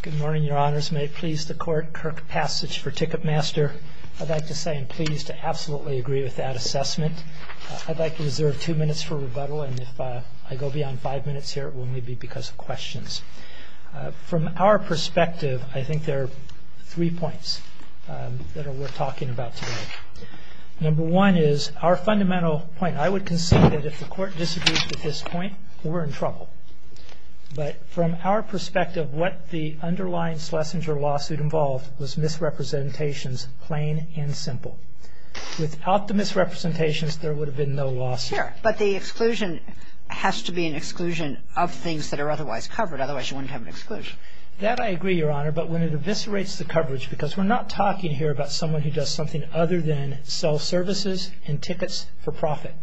Good morning, Your Honors. May it please the Court, Kirk Passage for Ticketmaster. I'd like to say I'm pleased to absolutely agree with that assessment. I'd like to reserve two minutes for rebuttal, and if I go beyond five minutes here, it will only be because of questions. From our perspective, I think there are three points that are worth talking about today. Number one is our fundamental point. I would concede that if the Court disagrees with this point, we're in trouble. But from our perspective, what the underlying Schlesinger lawsuit involved was misrepresentations, plain and simple. Without the misrepresentations, there would have been no lawsuit. Sure, but the exclusion has to be an exclusion of things that are otherwise covered. Otherwise, you wouldn't have an exclusion. That I agree, Your Honor, but when it eviscerates the coverage, because we're not talking here about someone who does something other than sell services and tickets for profit.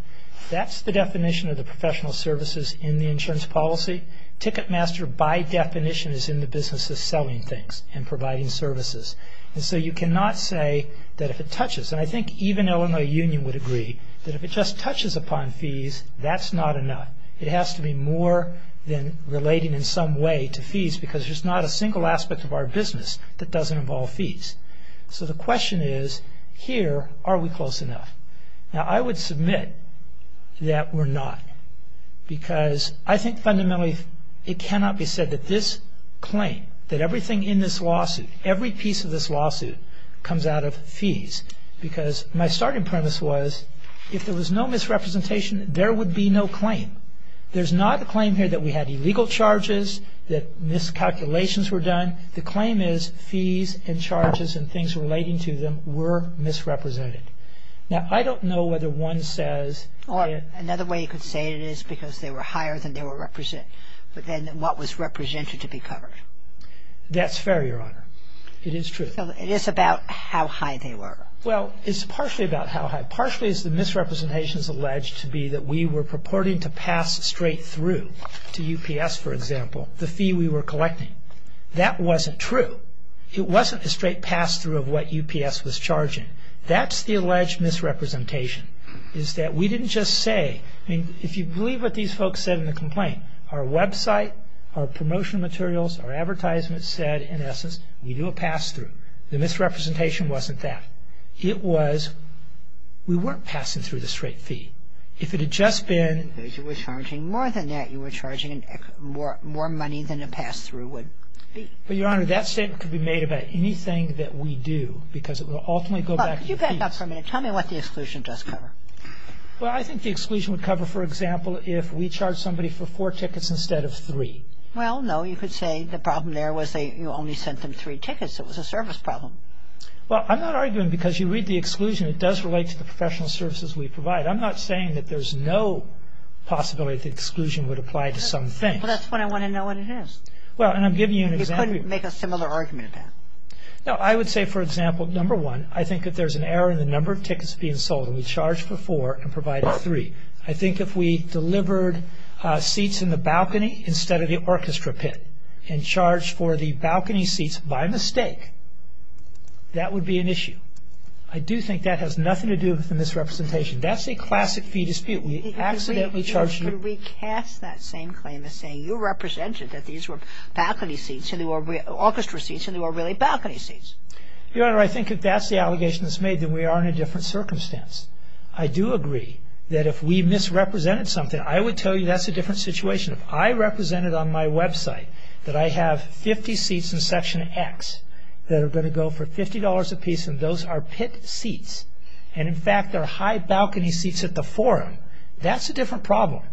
That's the definition of the professional services in the insurance policy. Ticketmaster, by definition, is in the business of selling things and providing services. And so you cannot say that if it touches, and I think even Illinois Union would agree, that if it just touches upon fees, that's not enough. It has to be more than relating in some way to fees, because there's not a single aspect of our business that doesn't involve fees. So the question is, here, are we close enough? Now, I would submit that we're not, because I think fundamentally it cannot be said that this claim, that everything in this lawsuit, every piece of this lawsuit comes out of fees, because my starting premise was if there was no misrepresentation, there would be no claim. There's not a claim here that we had illegal charges, that miscalculations were done. The claim is fees and charges and things relating to them were misrepresented. Now, I don't know whether one says that... Or another way you could say it is because they were higher than what was represented to be covered. That's fair, Your Honor. It is true. So it is about how high they were. Well, it's partially about how high. Partially it's the misrepresentations alleged to be that we were purporting to pass straight through to UPS, for example, the fee we were collecting. That wasn't true. It wasn't a straight pass-through of what UPS was charging. That's the alleged misrepresentation, is that we didn't just say... I mean, if you believe what these folks said in the complaint, our website, our promotional materials, our advertisements said, in essence, we do a pass-through. The misrepresentation wasn't that. It was we weren't passing through the straight fee. If it had just been... Because you were charging more than that. You were charging more money than a pass-through would be. But, Your Honor, that statement could be made about anything that we do, because it will ultimately go back to the fees. Well, could you back up for a minute? Tell me what the exclusion does cover. Well, I think the exclusion would cover, for example, if we charge somebody for four tickets instead of three. Well, no. You could say the problem there was you only sent them three tickets. It was a service problem. Well, I'm not arguing because you read the exclusion, it does relate to the professional services we provide. I'm not saying that there's no possibility the exclusion would apply to some things. Well, that's when I want to know what it is. Well, and I'm giving you an example... You couldn't make a similar argument about it. No, I would say, for example, number one, I think if there's an error in the number of tickets being sold, and we charge for four and provide for three, I think if we delivered seats in the balcony instead of the orchestra pit and charged for the balcony seats by mistake, that would be an issue. I do think that has nothing to do with the misrepresentation. That's a classic fee dispute. We accidentally charged... Could we cast that same claim as saying, that these were balcony seats and they were orchestra seats and they were really balcony seats? Your Honor, I think if that's the allegation that's made, then we are in a different circumstance. I do agree that if we misrepresented something, I would tell you that's a different situation. If I represented on my website that I have 50 seats in Section X that are going to go for $50 apiece, and those are pit seats, and, in fact, they're high balcony seats at the Forum, that's a different problem.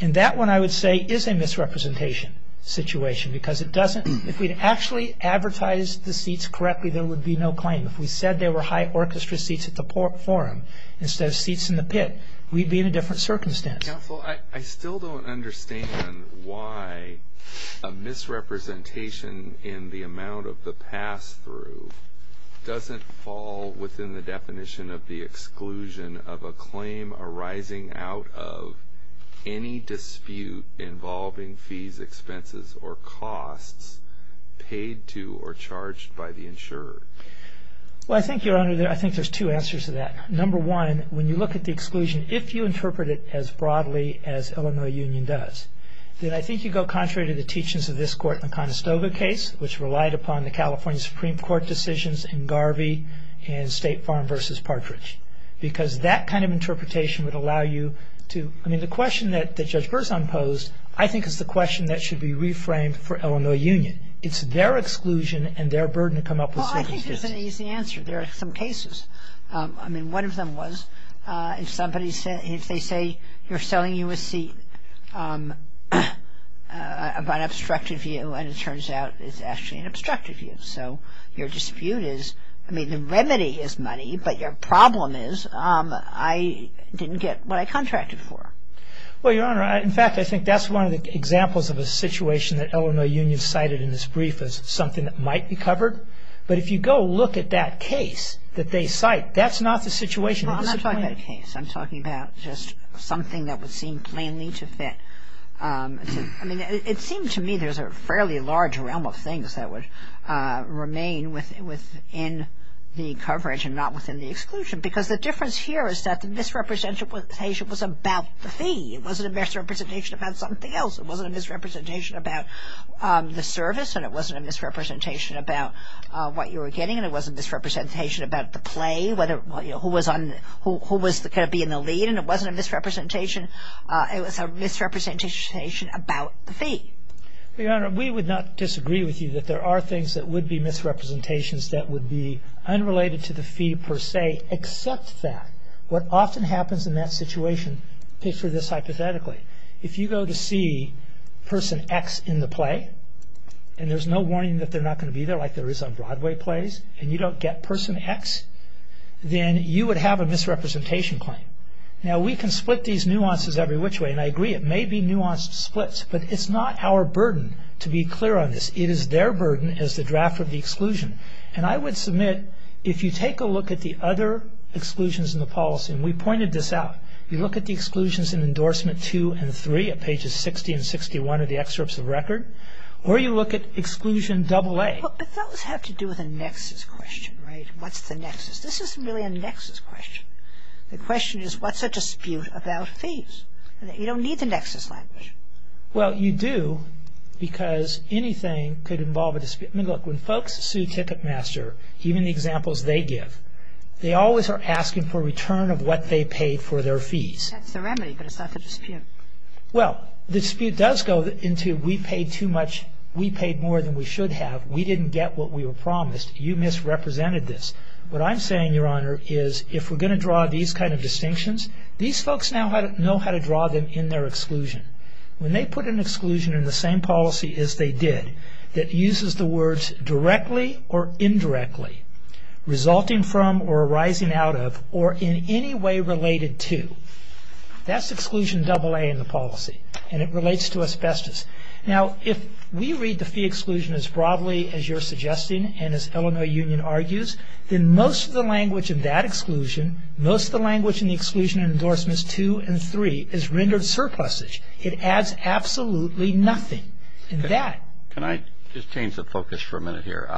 And that one, I would say, is a misrepresentation situation because it doesn't... If we'd actually advertised the seats correctly, there would be no claim. If we said they were high orchestra seats at the Forum instead of seats in the pit, we'd be in a different circumstance. Counsel, I still don't understand why a misrepresentation in the amount of the pass-through doesn't fall within the definition of the exclusion of a claim arising out of any dispute involving fees, expenses, or costs paid to or charged by the insurer. Well, I think, Your Honor, I think there's two answers to that. Number one, when you look at the exclusion, if you interpret it as broadly as Illinois Union does, then I think you go contrary to the teachings of this Court in the Conestoga case, which relied upon the California Supreme Court decisions in Garvey and State Farm v. Partridge because that kind of interpretation would allow you to... I mean, the question that Judge Berzon posed, I think, is the question that should be reframed for Illinois Union. It's their exclusion and their burden to come up with... Well, I think there's an easy answer. There are some cases. I mean, one of them was if somebody said... if they say you're selling you a seat by an obstructive view and it turns out it's actually an obstructive view, so your dispute is... but your problem is I didn't get what I contracted for. Well, Your Honor, in fact, I think that's one of the examples of a situation that Illinois Union cited in this brief as something that might be covered. But if you go look at that case that they cite, that's not the situation. Well, I'm not talking about a case. I'm talking about just something that would seem plainly to fit. I'm talking about an example of a case that would remain within the coverage and not within the exclusion. Because the difference here is that the misrepresentation was about the fee. It wasn't a misrepresentation about something else. It wasn't a misrepresentation about the service, and it wasn't a misrepresentation about what you were getting, and it wasn't a misrepresentation about the play, who was going to be in the lead. And it wasn't a misrepresentation... it was a misrepresentation about the fee. Your Honor, we would not disagree with you that there are things that would be misrepresentations that would be unrelated to the fee per se, except that what often happens in that situation... picture this hypothetically. If you go to see person X in the play, and there's no warning that they're not going to be there, like there is on Broadway plays, and you don't get person X, then you would have a misrepresentation claim. Now, we can split these nuances every which way, and I agree, it may be nuanced splits, but it's not our burden to be clear on this. It is their burden as the draft of the exclusion. And I would submit, if you take a look at the other exclusions in the policy, and we pointed this out, you look at the exclusions in Endorsement 2 and 3 at pages 60 and 61 of the Excerpts of Record, or you look at Exclusion AA... But those have to do with a nexus question, right? What's the nexus? This isn't really a nexus question. The question is, what's a dispute about fees? You don't need the nexus language. Well, you do, because anything could involve a dispute. I mean, look, when folks sue Ticketmaster, even the examples they give, they always are asking for return of what they paid for their fees. That's the remedy, but it's not the dispute. Well, the dispute does go into, we paid too much, we paid more than we should have, we didn't get what we were promised, you misrepresented this. What I'm saying, Your Honor, is if we're going to draw these kind of distinctions, these folks now know how to draw them in their exclusion. When they put an exclusion in the same policy as they did, that uses the words directly or indirectly, resulting from or arising out of, or in any way related to, that's Exclusion AA in the policy, and it relates to asbestos. Now, if we read the fee exclusion as broadly as you're suggesting and as Illinois Union argues, then most of the language in that exclusion, most of the language in the Exclusion and Endorsements 2 and 3 is rendered surplusage. It adds absolutely nothing. And that... Can I just change the focus for a minute here?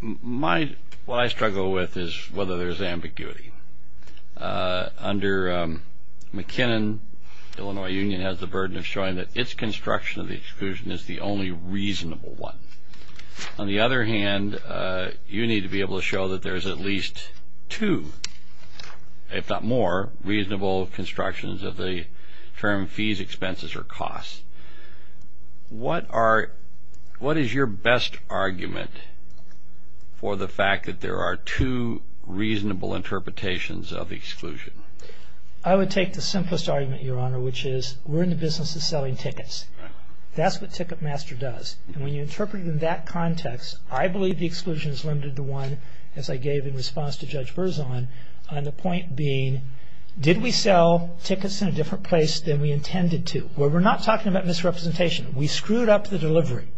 What I struggle with is whether there's ambiguity. Under McKinnon, Illinois Union has the burden of showing that its construction of the exclusion is the only reasonable one. On the other hand, you need to be able to show that there's at least two, if not more, reasonable constructions of the term fees, expenses, or costs. What are... What is your best argument for the fact that there are two reasonable interpretations of exclusion? I would take the simplest argument, Your Honor, which is we're in the business of selling tickets. That's what Ticketmaster does. And when you interpret it in that context, I believe the exclusion is limited to one, as I gave in response to Judge Berzon, on the point being, did we sell tickets in a different place than we intended to? Where we're not talking about misrepresentation. We screwed up the delivery.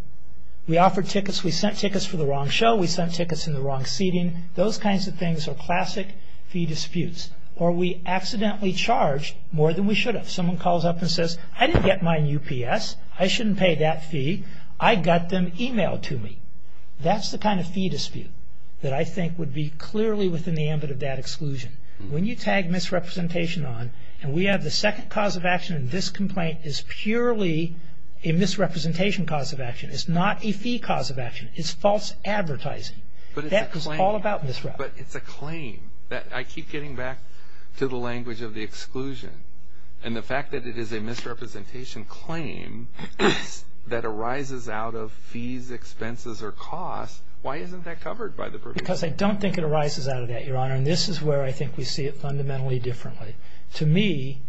We offered tickets, we sent tickets for the wrong show, we sent tickets in the wrong seating. Those kinds of things are classic fee disputes. Or we accidentally charged more than we should have. Someone calls up and says, I didn't get mine UPS. I shouldn't pay that fee. I got them emailed to me. That's the kind of fee dispute that I think would be clearly within the ambit of that exclusion. When you tag misrepresentation on, and we have the second cause of action in this complaint is purely a misrepresentation cause of action. It's not a fee cause of action. It's false advertising. That is all about misrep. But it's a claim. I keep getting back to the language of the exclusion. And the fact that it is a misrepresentation claim that arises out of fees, expenses, or costs, why isn't that covered by the provision? Because I don't think it arises out of that, Your Honor. And this is where I think we see it fundamentally differently. To me,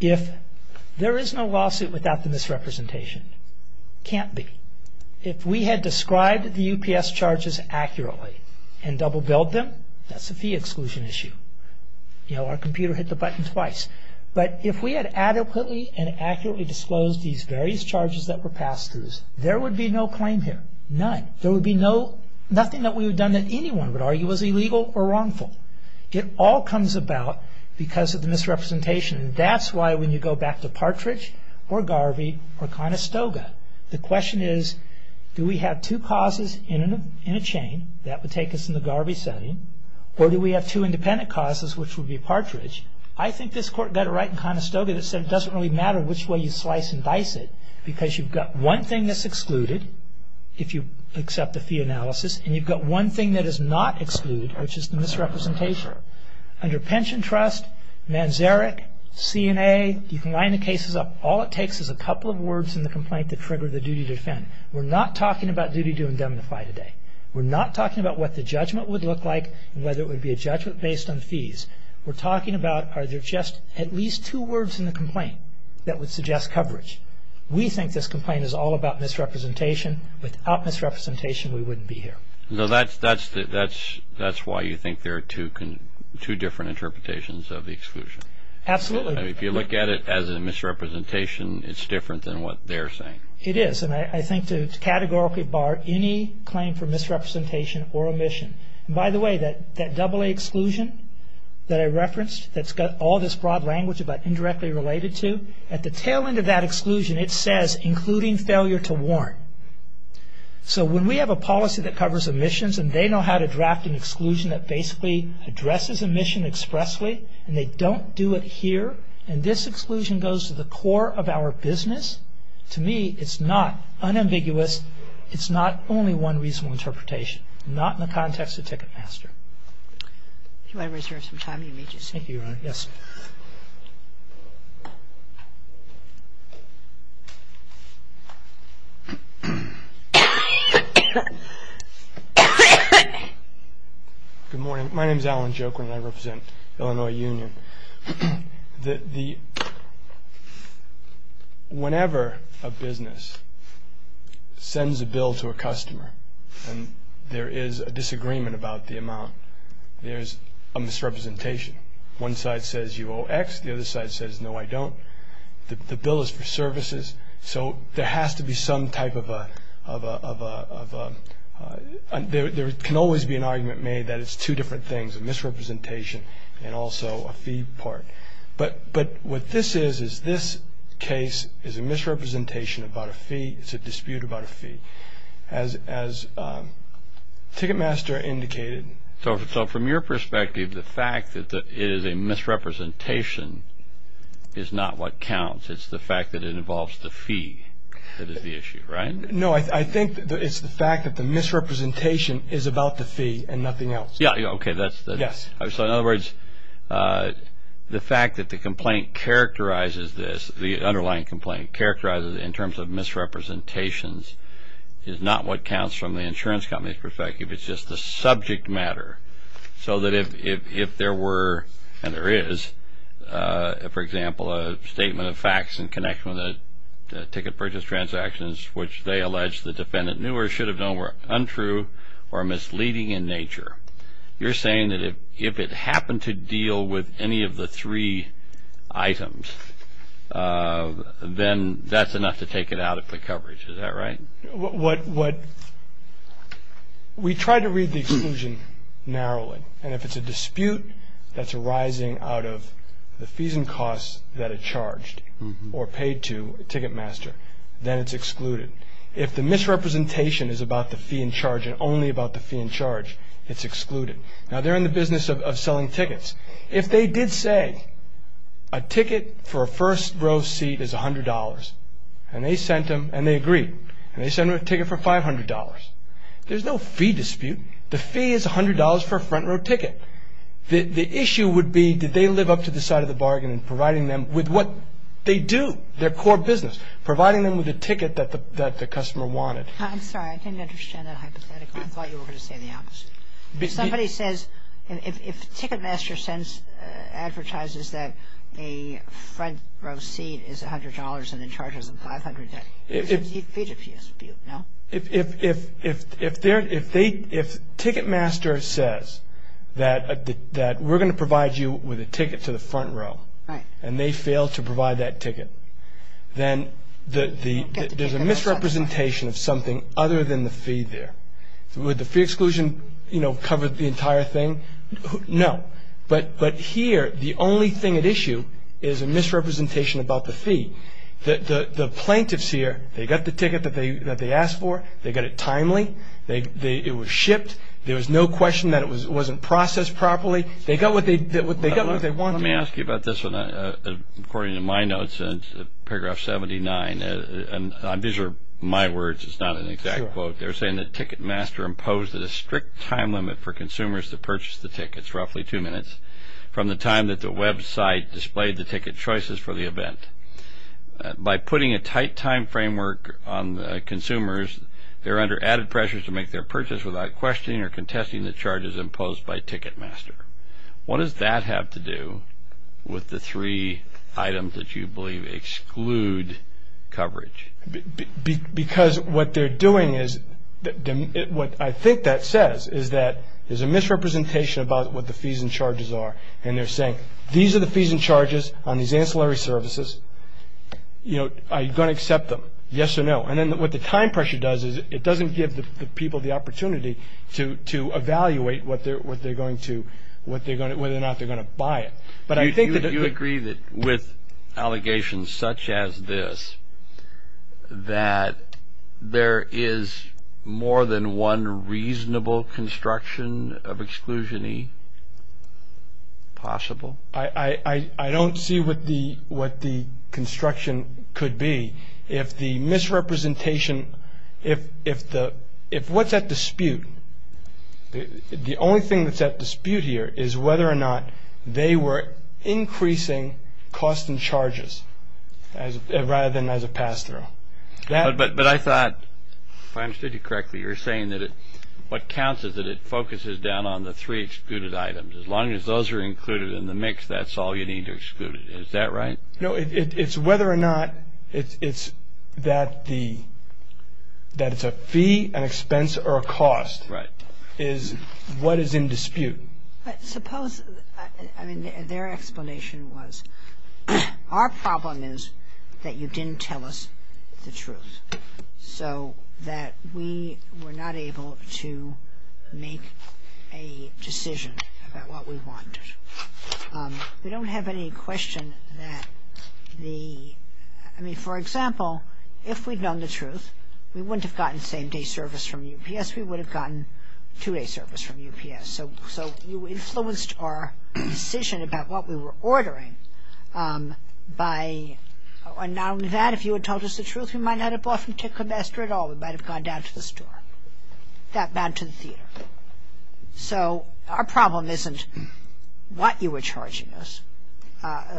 if there is no lawsuit without the misrepresentation, can't be. If we had described the UPS charges accurately and double-billed them, that's a fee exclusion issue. Our computer hit the button twice. But if we had adequately and accurately disclosed these various charges that were passed to us, there would be no claim here. None. There would be nothing that we would have done that anyone would argue was illegal or wrongful. It all comes about because of the misrepresentation. And that's why when you go back to Partridge or Garvey or Conestoga, the question is, do we have two causes in a chain? That would take us in the Garvey setting. Or do we have two independent causes, which would be Partridge? I think this Court got it right in Conestoga that said it doesn't really matter which way you slice and dice it because you've got one thing that's excluded, if you accept the fee analysis, and you've got one thing that is not excluded, which is the misrepresentation. Under Pension Trust, Manzarek, CNA, you can line the cases up. All it takes is a couple of words in the complaint to trigger the duty to defend. We're not talking about duty to indemnify today. We're not talking about what the judgment would look like and whether it would be a judgment based on fees. We're talking about are there just at least two words in the complaint that would suggest coverage. We think this complaint is all about misrepresentation. Without misrepresentation, we wouldn't be here. That's why you think there are two different interpretations of the exclusion. Absolutely. If you look at it as a misrepresentation, it's different than what they're saying. It is, and I think to categorically bar any claim for misrepresentation or omission. By the way, that AA exclusion that I referenced, that's got all this broad language about indirectly related to, at the tail end of that exclusion, it says including failure to warn. When we have a policy that covers omissions and they know how to draft an exclusion that basically addresses omission expressly and they don't do it here, and this exclusion goes to the core of our business, to me, it's not unambiguous. It's not only one reasonable interpretation. Not in the context of Ticketmaster. If you want to reserve some time, you may just speak. Thank you, Your Honor. Yes. Good morning. My name is Alan Joklin and I represent Illinois Union. Whenever a business sends a bill to a customer and there is a disagreement about the amount, there's a misrepresentation. One side says, you owe X. The other side says, no, I don't. The bill is for services, so there has to be some type of a – there can always be an argument made that it's two different things, a misrepresentation and also a fee part. But what this is is this case is a misrepresentation about a fee. It's a dispute about a fee. As Ticketmaster indicated – So from your perspective, the fact that it is a misrepresentation is not what counts. It's the fact that it involves the fee that is the issue, right? No, I think it's the fact that the misrepresentation is about the fee and nothing else. Yeah, okay. Yes. So in other words, the fact that the complaint characterizes this, the underlying complaint characterizes it in terms of misrepresentations, is not what counts from the insurance company's perspective. It's just the subject matter. So that if there were, and there is, for example, a statement of facts in connection with the ticket purchase transactions which they allege the defendant knew or should have known were untrue or misleading in nature, you're saying that if it happened to deal with any of the three items, then that's enough to take it out of the coverage. Is that right? We try to read the exclusion narrowly, and if it's a dispute that's arising out of the fees and costs that are charged or paid to a ticket master, then it's excluded. If the misrepresentation is about the fee in charge and only about the fee in charge, it's excluded. Now, they're in the business of selling tickets. If they did say a ticket for a first-row seat is $100, and they sent them, and they agreed, and they sent them a ticket for $500, there's no fee dispute. The fee is $100 for a front-row ticket. The issue would be did they live up to the side of the bargain in providing them with what they do, their core business, providing them with a ticket that the customer wanted. I'm sorry, I didn't understand that hypothetically. I thought you were going to say the opposite. If somebody says, if a ticket master advertises that a front-row seat is $100 and in charge of $500, there's a fee dispute, no? If ticket master says that we're going to provide you with a ticket to the front row, and they fail to provide that ticket, then there's a misrepresentation of something other than the fee there. Would the fee exclusion, you know, cover the entire thing? No. But here, the only thing at issue is a misrepresentation about the fee. The plaintiffs here, they got the ticket that they asked for. They got it timely. It was shipped. There was no question that it wasn't processed properly. They got what they wanted. Let me ask you about this one. According to my notes in paragraph 79, and these are my words, it's not an exact quote. They're saying the ticket master imposed a strict time limit for consumers to purchase the tickets, roughly two minutes, from the time that the website displayed the ticket choices for the event. By putting a tight time framework on consumers, they're under added pressure to make their purchase without questioning or contesting the charges imposed by ticket master. What does that have to do with the three items that you believe exclude coverage? Because what they're doing is, what I think that says, is that there's a misrepresentation about what the fees and charges are. And they're saying, these are the fees and charges on these ancillary services. Are you going to accept them? Yes or no? And then what the time pressure does is it doesn't give the people the opportunity to evaluate whether or not they're going to buy it. Do you agree that with allegations such as this, that there is more than one reasonable construction of exclusion E possible? I don't see what the construction could be. If the misrepresentation, if what's at dispute, the only thing that's at dispute here is whether or not they were increasing costs and charges rather than as a pass-through. But I thought, if I understood you correctly, you were saying that what counts is that it focuses down on the three excluded items. As long as those are included in the mix, that's all you need to exclude it. Is that right? No, it's whether or not it's that it's a fee, an expense, or a cost is what is in dispute. But suppose, I mean, their explanation was, our problem is that you didn't tell us the truth, so that we were not able to make a decision about what we wanted. We don't have any question that the, I mean, for example, if we'd known the truth, we wouldn't have gotten same-day service from UPS. We would have gotten two-day service from UPS. So you influenced our decision about what we were ordering by, and not only that, if you had told us the truth, we might not have bought from Tickle Master at all. We might have gone down to the store, got back to the theater. So our problem isn't what you were charging us,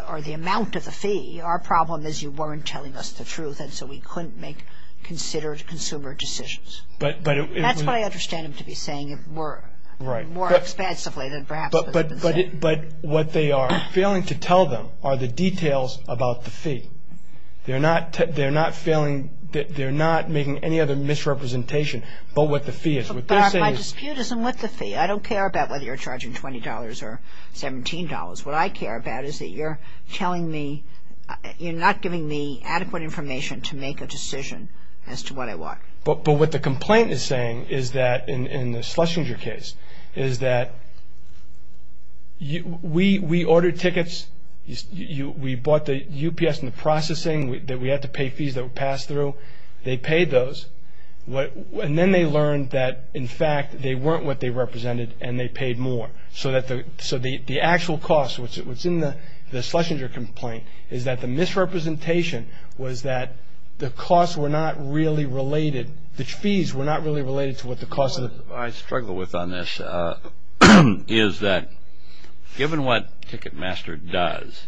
or the amount of the fee. Our problem is you weren't telling us the truth, and so we couldn't make considered consumer decisions. That's what I understand them to be saying more expansively than perhaps what's been said. But what they are failing to tell them are the details about the fee. They're not making any other misrepresentation but what the fee is. But my dispute isn't with the fee. I don't care about whether you're charging $20 or $17. What I care about is that you're telling me, you're not giving me adequate information to make a decision as to what I want. But what the complaint is saying is that, in the Schlesinger case, is that we ordered tickets. We bought the UPS in the processing. We had to pay fees that were passed through. They paid those. And then they learned that, in fact, they weren't what they represented, and they paid more. So the actual cost, what's in the Schlesinger complaint, is that the misrepresentation was that the costs were not really related. The fees were not really related to what the cost of the- What I struggle with on this is that, given what Ticketmaster does,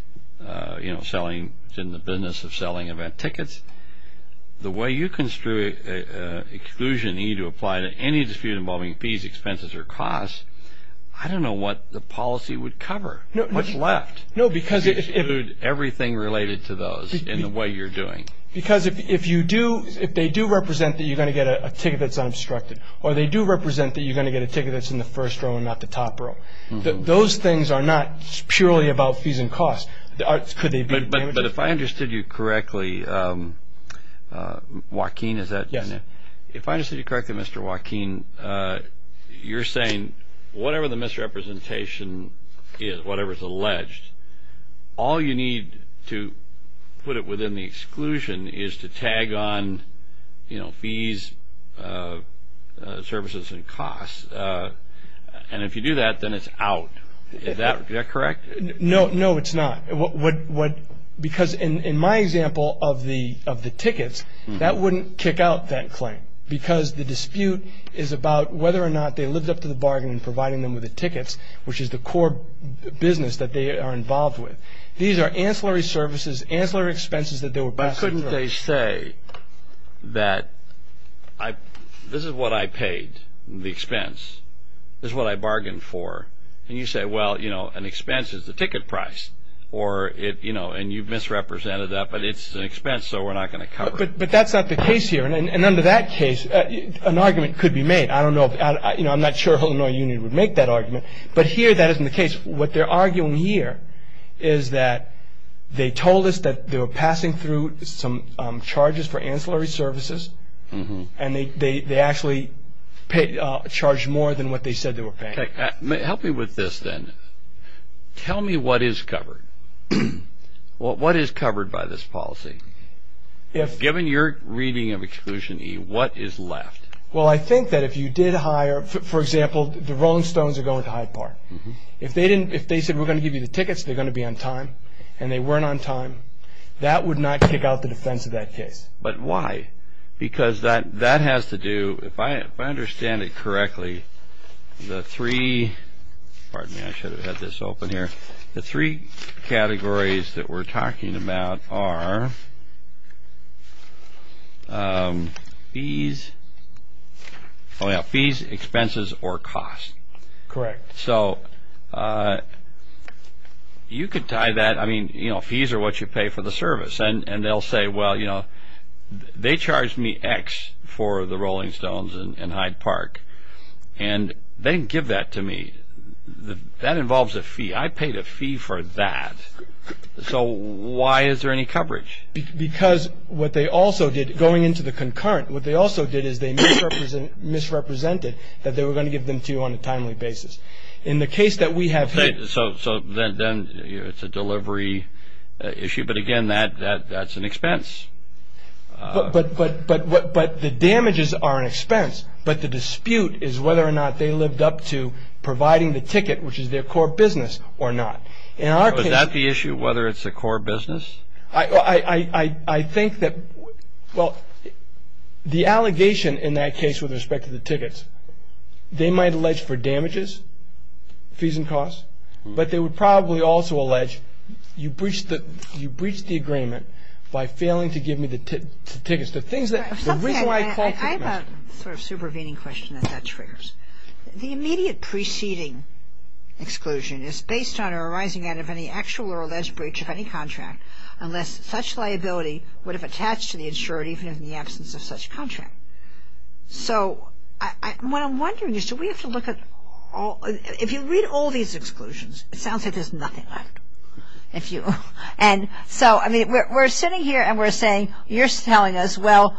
selling in the business of selling event tickets, the way you construe exclusion, you need to apply to any dispute involving fees, expenses, or costs, I don't know what the policy would cover, what's left. No, because if- Everything related to those in the way you're doing. Because if you do, if they do represent that you're going to get a ticket that's unobstructed, or they do represent that you're going to get a ticket that's in the first row and not the top row, those things are not purely about fees and costs. Could they be- But if I understood you correctly, Joaquin, is that- Yes. If I understood you correctly, Mr. Joaquin, you're saying whatever the misrepresentation is, whatever's alleged, all you need to put it within the exclusion is to tag on fees, services, and costs. And if you do that, then it's out. Is that correct? No, it's not. Because in my example of the tickets, that wouldn't kick out that claim because the dispute is about whether or not they lived up to the bargain in providing them with the tickets, which is the core business that they are involved with. These are ancillary services, ancillary expenses that they were- Couldn't they say that this is what I paid, the expense. This is what I bargained for. And you say, well, you know, an expense is the ticket price. And you misrepresented that, but it's an expense, so we're not going to cover it. But that's not the case here. And under that case, an argument could be made. I don't know. I'm not sure Illinois Union would make that argument. But here that isn't the case. What they're arguing here is that they told us that they were passing through some charges for ancillary services, and they actually charged more than what they said they were paying. Help me with this then. Tell me what is covered. What is covered by this policy? Given your reading of Exclusion E, what is left? Well, I think that if you did hire- For example, the Rolling Stones are going to Hyde Park. If they said, we're going to give you the tickets, they're going to be on time, and they weren't on time, that would not kick out the defense of that case. But why? Because that has to do, if I understand it correctly, the three categories that we're talking about are fees, expenses, or cost. Correct. So you could tie that, I mean, you know, fees are what you pay for the service. And they'll say, well, you know, they charged me X for the Rolling Stones and Hyde Park, and they didn't give that to me. That involves a fee. I paid a fee for that. So why is there any coverage? Because what they also did, going into the concurrent, what they also did is they misrepresented that they were going to give them to you on a timely basis. In the case that we have here- So then it's a delivery issue, but, again, that's an expense. But the damages are an expense, but the dispute is whether or not they lived up to providing the ticket, which is their core business, or not. Was that the issue, whether it's a core business? I think that, well, the allegation in that case with respect to the tickets, they might allege for damages, fees and costs, but they would probably also allege you breached the agreement by failing to give me the tickets. The things that- I have a sort of supervening question that that triggers. The immediate preceding exclusion is based on or arising out of any actual or alleged breach of any contract unless such liability would have attached to the insured even in the absence of such contract. So what I'm wondering is do we have to look at all- If you read all these exclusions, it sounds like there's nothing left. And so, I mean, we're sitting here and we're saying, you're telling us, well,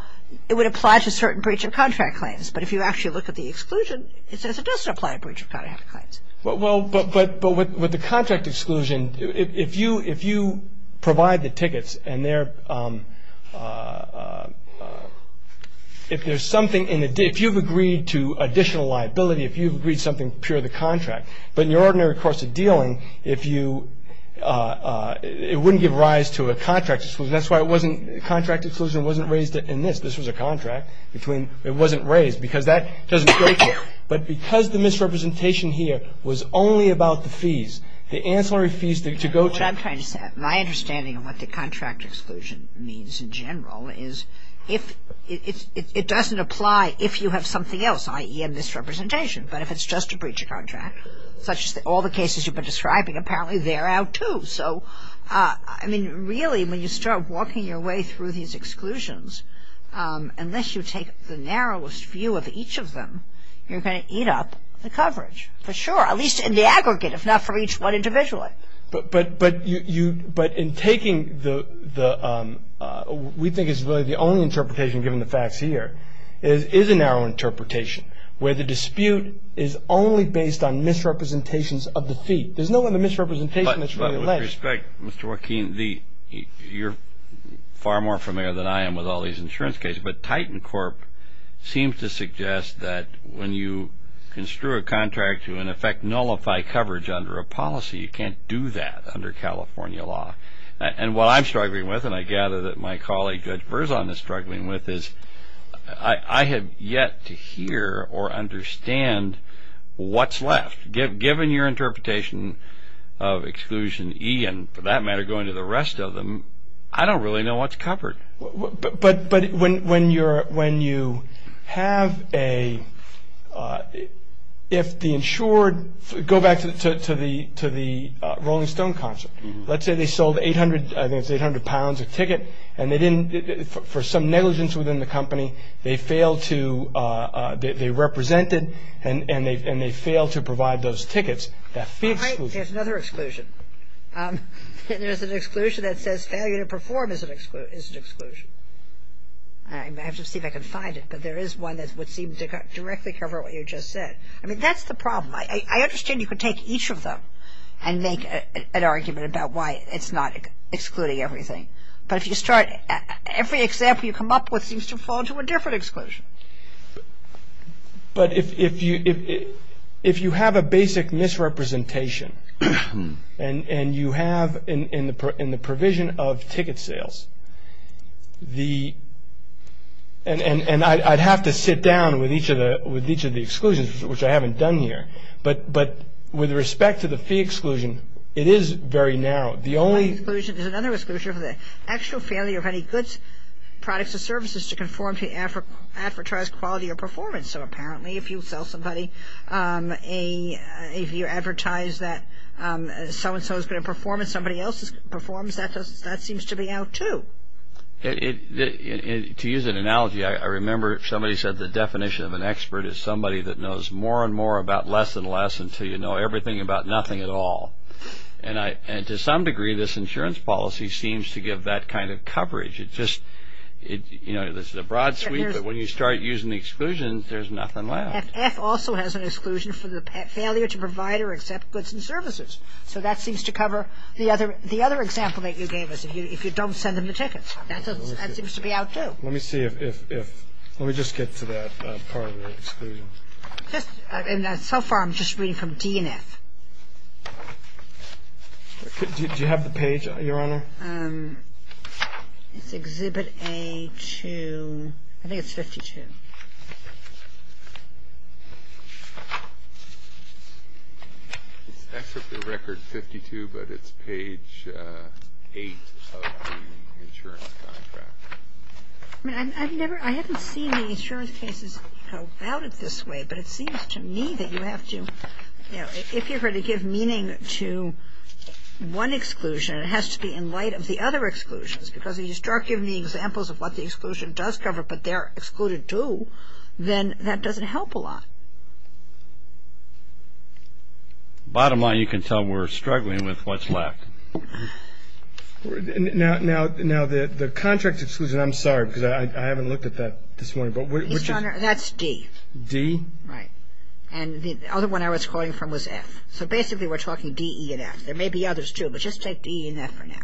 it would apply to a certain breach of contract claims. But if you actually look at the exclusion, it says it doesn't apply to breach of contract claims. Well, but with the contract exclusion, if you provide the tickets and they're- If there's something in the- If you've agreed to additional liability, if you've agreed something pure of the contract, but in your ordinary course of dealing, if you- It wouldn't give rise to a contract exclusion. That's why it wasn't- Contract exclusion wasn't raised in this. This was a contract between- It wasn't raised because that doesn't go to it. But because the misrepresentation here was only about the fees, the ancillary fees to go to- What I'm trying to say, my understanding of what the contract exclusion means in general is it doesn't apply if you have something else, i.e. a misrepresentation. But if it's just a breach of contract, such as all the cases you've been describing, apparently they're out too. So, I mean, really, when you start walking your way through these exclusions, unless you take the narrowest view of each of them, you're going to eat up the coverage, for sure, at least in the aggregate, if not for each one individually. But in taking the- We think it's really the only interpretation, given the facts here, is a narrow interpretation where the dispute is only based on misrepresentations of the fee. There's no other misrepresentation that's really left. With respect, Mr. Joaquin, you're far more familiar than I am with all these insurance cases. But Titan Corp seems to suggest that when you construe a contract to, in effect, nullify coverage under a policy, you can't do that under California law. And what I'm struggling with, and I gather that my colleague, Judge Verzon, is struggling with, is I have yet to hear or understand what's left. Given your interpretation of Exclusion E and, for that matter, going to the rest of them, I don't really know what's covered. But when you have a- If the insured- Go back to the Rolling Stone concept. Let's say they sold 800 pounds of ticket, and they didn't- For some negligence within the company, they failed to- There's another exclusion. There's an exclusion that says failure to perform is an exclusion. I have to see if I can find it. But there is one that would seem to directly cover what you just said. I mean, that's the problem. I understand you could take each of them and make an argument about why it's not excluding everything. But if you start- Every example you come up with seems to fall into a different exclusion. But if you have a basic misrepresentation, and you have in the provision of ticket sales the- And I'd have to sit down with each of the exclusions, which I haven't done here. But with respect to the fee exclusion, it is very narrow. The only- There's another exclusion. There's another exclusion for the actual failure of any goods, products, or services to conform to advertised quality or performance. So apparently if you sell somebody a- If you advertise that so-and-so is going to perform and somebody else performs, that seems to be out too. To use an analogy, I remember somebody said the definition of an expert is somebody that knows more and more about less and less until you know everything about nothing at all. And to some degree, this insurance policy seems to give that kind of coverage. It just- You know, this is a broad sweep, but when you start using the exclusions, there's nothing left. F also has an exclusion for the failure to provide or accept goods and services. So that seems to cover the other example that you gave us, if you don't send them the tickets. That seems to be out too. Let me see if- Let me just get to that part of the exclusion. So far, I'm just reading from D and F. Do you have the page, Your Honor? It's Exhibit A to- I think it's 52. It's Exhibit A, Record 52, but it's Page 8 of the insurance contract. I mean, I've never- I haven't seen the insurance cases go about it this way, but it seems to me that you have to- if you're going to give meaning to one exclusion, it has to be in light of the other exclusions, because if you start giving the examples of what the exclusion does cover but they're excluded too, then that doesn't help a lot. Bottom line, you can tell we're struggling with what's left. Now, the contract exclusion, I'm sorry, because I haven't looked at that this morning, but which is- That's D. D? Right. And the other one I was quoting from was F. So basically, we're talking D, E, and F. There may be others too, but just take D, E, and F for now.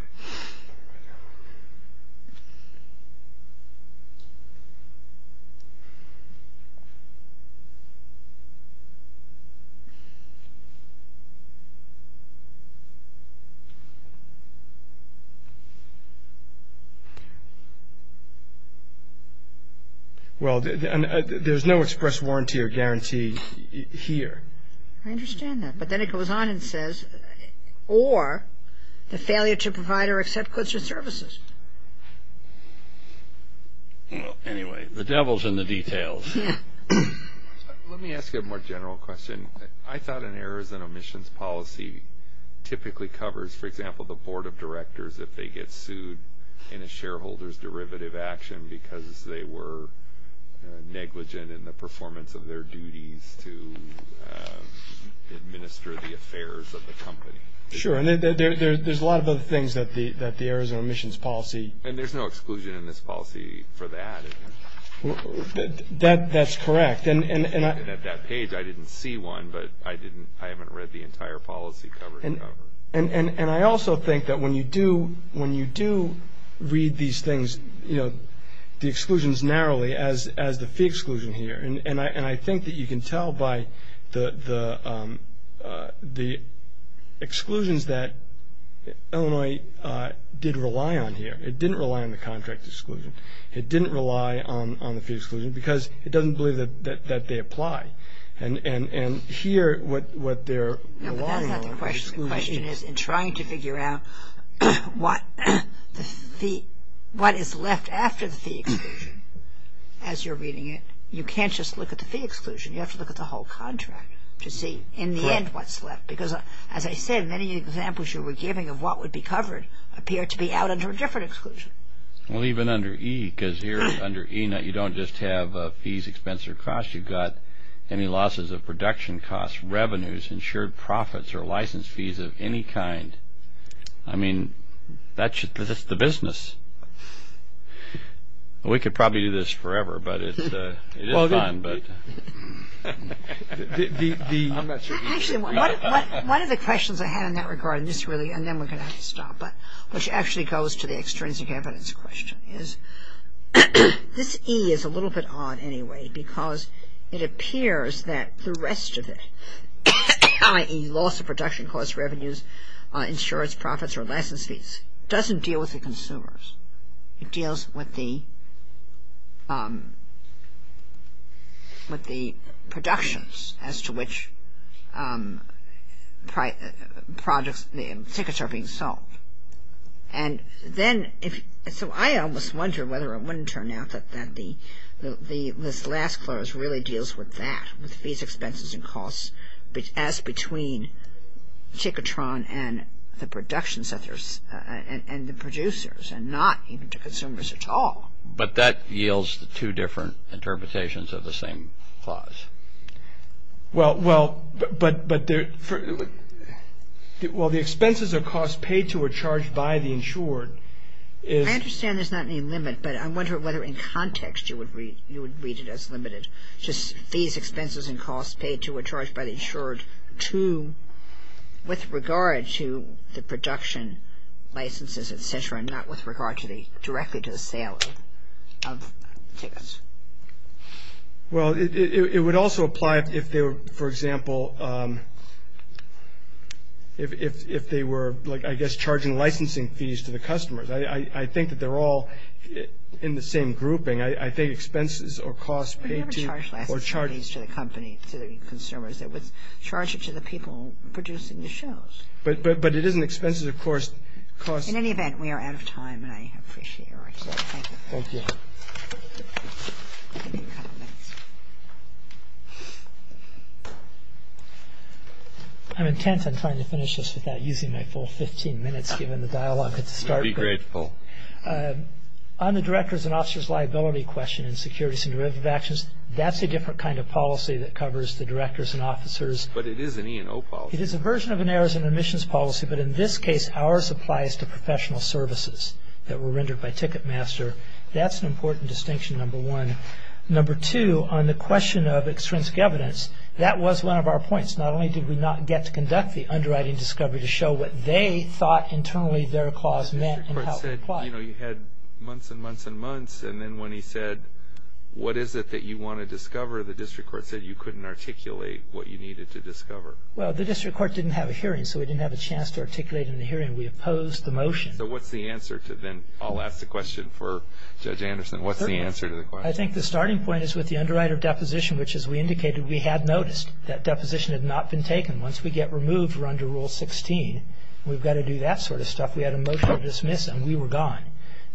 Well, there's no express warranty or guarantee here. I understand that. But then it goes on and says, or the failure to provide or accept goods or services. Well, anyway, the devil's in the details. Let me ask you a more general question. For example, the Board of Directors, if they get sued in a shareholder's derivative action because they were negligent in the performance of their duties to administer the affairs of the company. Sure, and there's a lot of other things that the Arizona Emissions Policy- And there's no exclusion in this policy for that, is there? That's correct. And at that page, I didn't see one, but I haven't read the entire policy cover to cover. And I also think that when you do read these things, the exclusions narrowly as the fee exclusion here. And I think that you can tell by the exclusions that Illinois did rely on here. It didn't rely on the contract exclusion. It didn't rely on the fee exclusion because it doesn't believe that they apply. And here, what they're relying on- No, but that's not the question. The question is, in trying to figure out what is left after the fee exclusion, as you're reading it, you can't just look at the fee exclusion. You have to look at the whole contract to see, in the end, what's left. Because, as I said, many examples you were giving of what would be covered appear to be out under a different exclusion. Well, even under E, because here, under E, you don't just have fees, expense, or cost. You've got any losses of production costs, revenues, insured profits, or license fees of any kind. I mean, that's the business. We could probably do this forever, but it is fun. Actually, one of the questions I had in that regard, and then we're going to have to stop, which actually goes to the extrinsic evidence question, is this E is a little bit odd, anyway, because it appears that the rest of it, i.e. loss of production costs, revenues, insurance profits, or license fees, doesn't deal with the consumers. It deals with the productions as to which tickets are being sold. And so I almost wonder whether it wouldn't turn out that this last clause really deals with that, with fees, expenses, and costs, as between Ticketron and the producers, and not even to consumers at all. But that yields two different interpretations of the same clause. Well, the expenses or costs paid to or charged by the insured is... I understand there's not any limit, but I wonder whether in context you would read it as limited, just fees, expenses, and costs paid to or charged by the insured with regard to the production licenses, et cetera, and not with regard directly to the sale of tickets. Well, it would also apply if they were, for example, if they were, like, I guess, charging licensing fees to the customers. I think that they're all in the same grouping. I think expenses or costs paid to or charged... But you never charged licensing fees to the company, to the consumers. It was charged to the people producing the shows. But it isn't expenses, of course, costs... In any event, we are out of time, and I appreciate your answer. Thank you. Thank you. I'm intent on trying to finish this without using my full 15 minutes, given the dialogue at the start. I'd be grateful. On the directors and officers' liability question in securities and derivative actions, that's a different kind of policy that covers the directors and officers. But it is an E&O policy. It is a version of an errors and omissions policy, but in this case, ours applies to professional services that were rendered by Ticketmaster. That's an important distinction, number one. Number two, on the question of extrinsic evidence, that was one of our points. Not only did we not get to conduct the underwriting discovery to show what they thought internally their clause meant and how it applied... The district court said, you know, you had months and months and months, and then when he said, what is it that you want to discover, the district court said you couldn't articulate what you needed to discover. Well, the district court didn't have a hearing, so we didn't have a chance to articulate in the hearing. We opposed the motion. So what's the answer? Then I'll ask the question for Judge Anderson. What's the answer to the question? I think the starting point is with the underwriter deposition, which, as we indicated, we had noticed. That deposition had not been taken. Once we get removed, we're under Rule 16. We've got to do that sort of stuff. We had a motion to dismiss, and we were gone.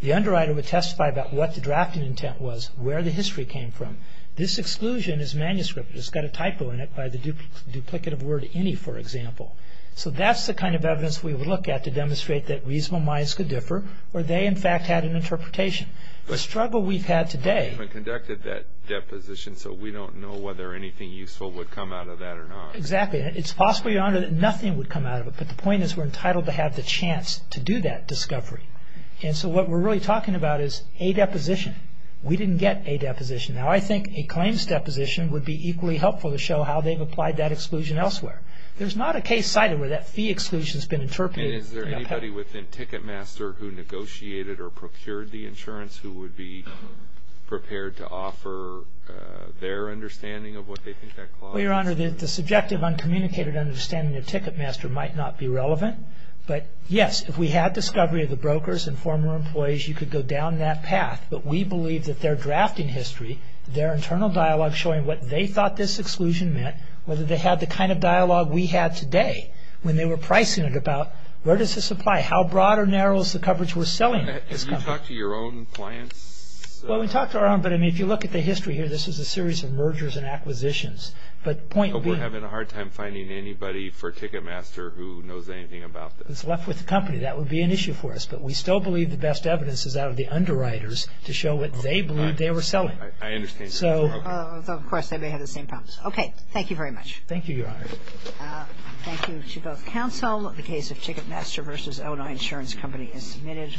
The underwriter would testify about what the drafting intent was, where the history came from. This exclusion is manuscript. It's got a typo in it by the duplicative word any, for example. So that's the kind of evidence we would look at to demonstrate that reasonable minds could differ or they, in fact, had an interpretation. The struggle we've had today... We haven't conducted that deposition, so we don't know whether anything useful would come out of that or not. Exactly. It's possible, Your Honor, that nothing would come out of it, but the point is we're entitled to have the chance to do that discovery. And so what we're really talking about is a deposition. We didn't get a deposition. Now, I think a claims deposition would be equally helpful to show how they've applied that exclusion elsewhere. There's not a case cited where that fee exclusion has been interpreted. And is there anybody within Ticketmaster who negotiated or procured the insurance who would be prepared to offer their understanding of what they think that clause is? Well, Your Honor, the subjective, uncommunicated understanding of Ticketmaster might not be relevant. But, yes, if we had discovery of the brokers and former employees, you could go down that path. But we believe that they're drafting history, their internal dialogue showing what they thought this exclusion meant, whether they had the kind of dialogue we had today when they were pricing it about where does this apply, how broad or narrow is the coverage we're selling this company. Have you talked to your own clients? Well, we talked to our own, but if you look at the history here, this is a series of mergers and acquisitions. But point being... We're having a hard time finding anybody for Ticketmaster who knows anything about this. It's left with the company. That would be an issue for us. But we still believe the best evidence is out of the underwriters to show what they believed they were selling. I understand. Of course, they may have the same problems. Okay. Thank you very much. Thank you, Your Honor. Thank you to both counsel. The case of Ticketmaster v. Illinois Insurance Company is submitted.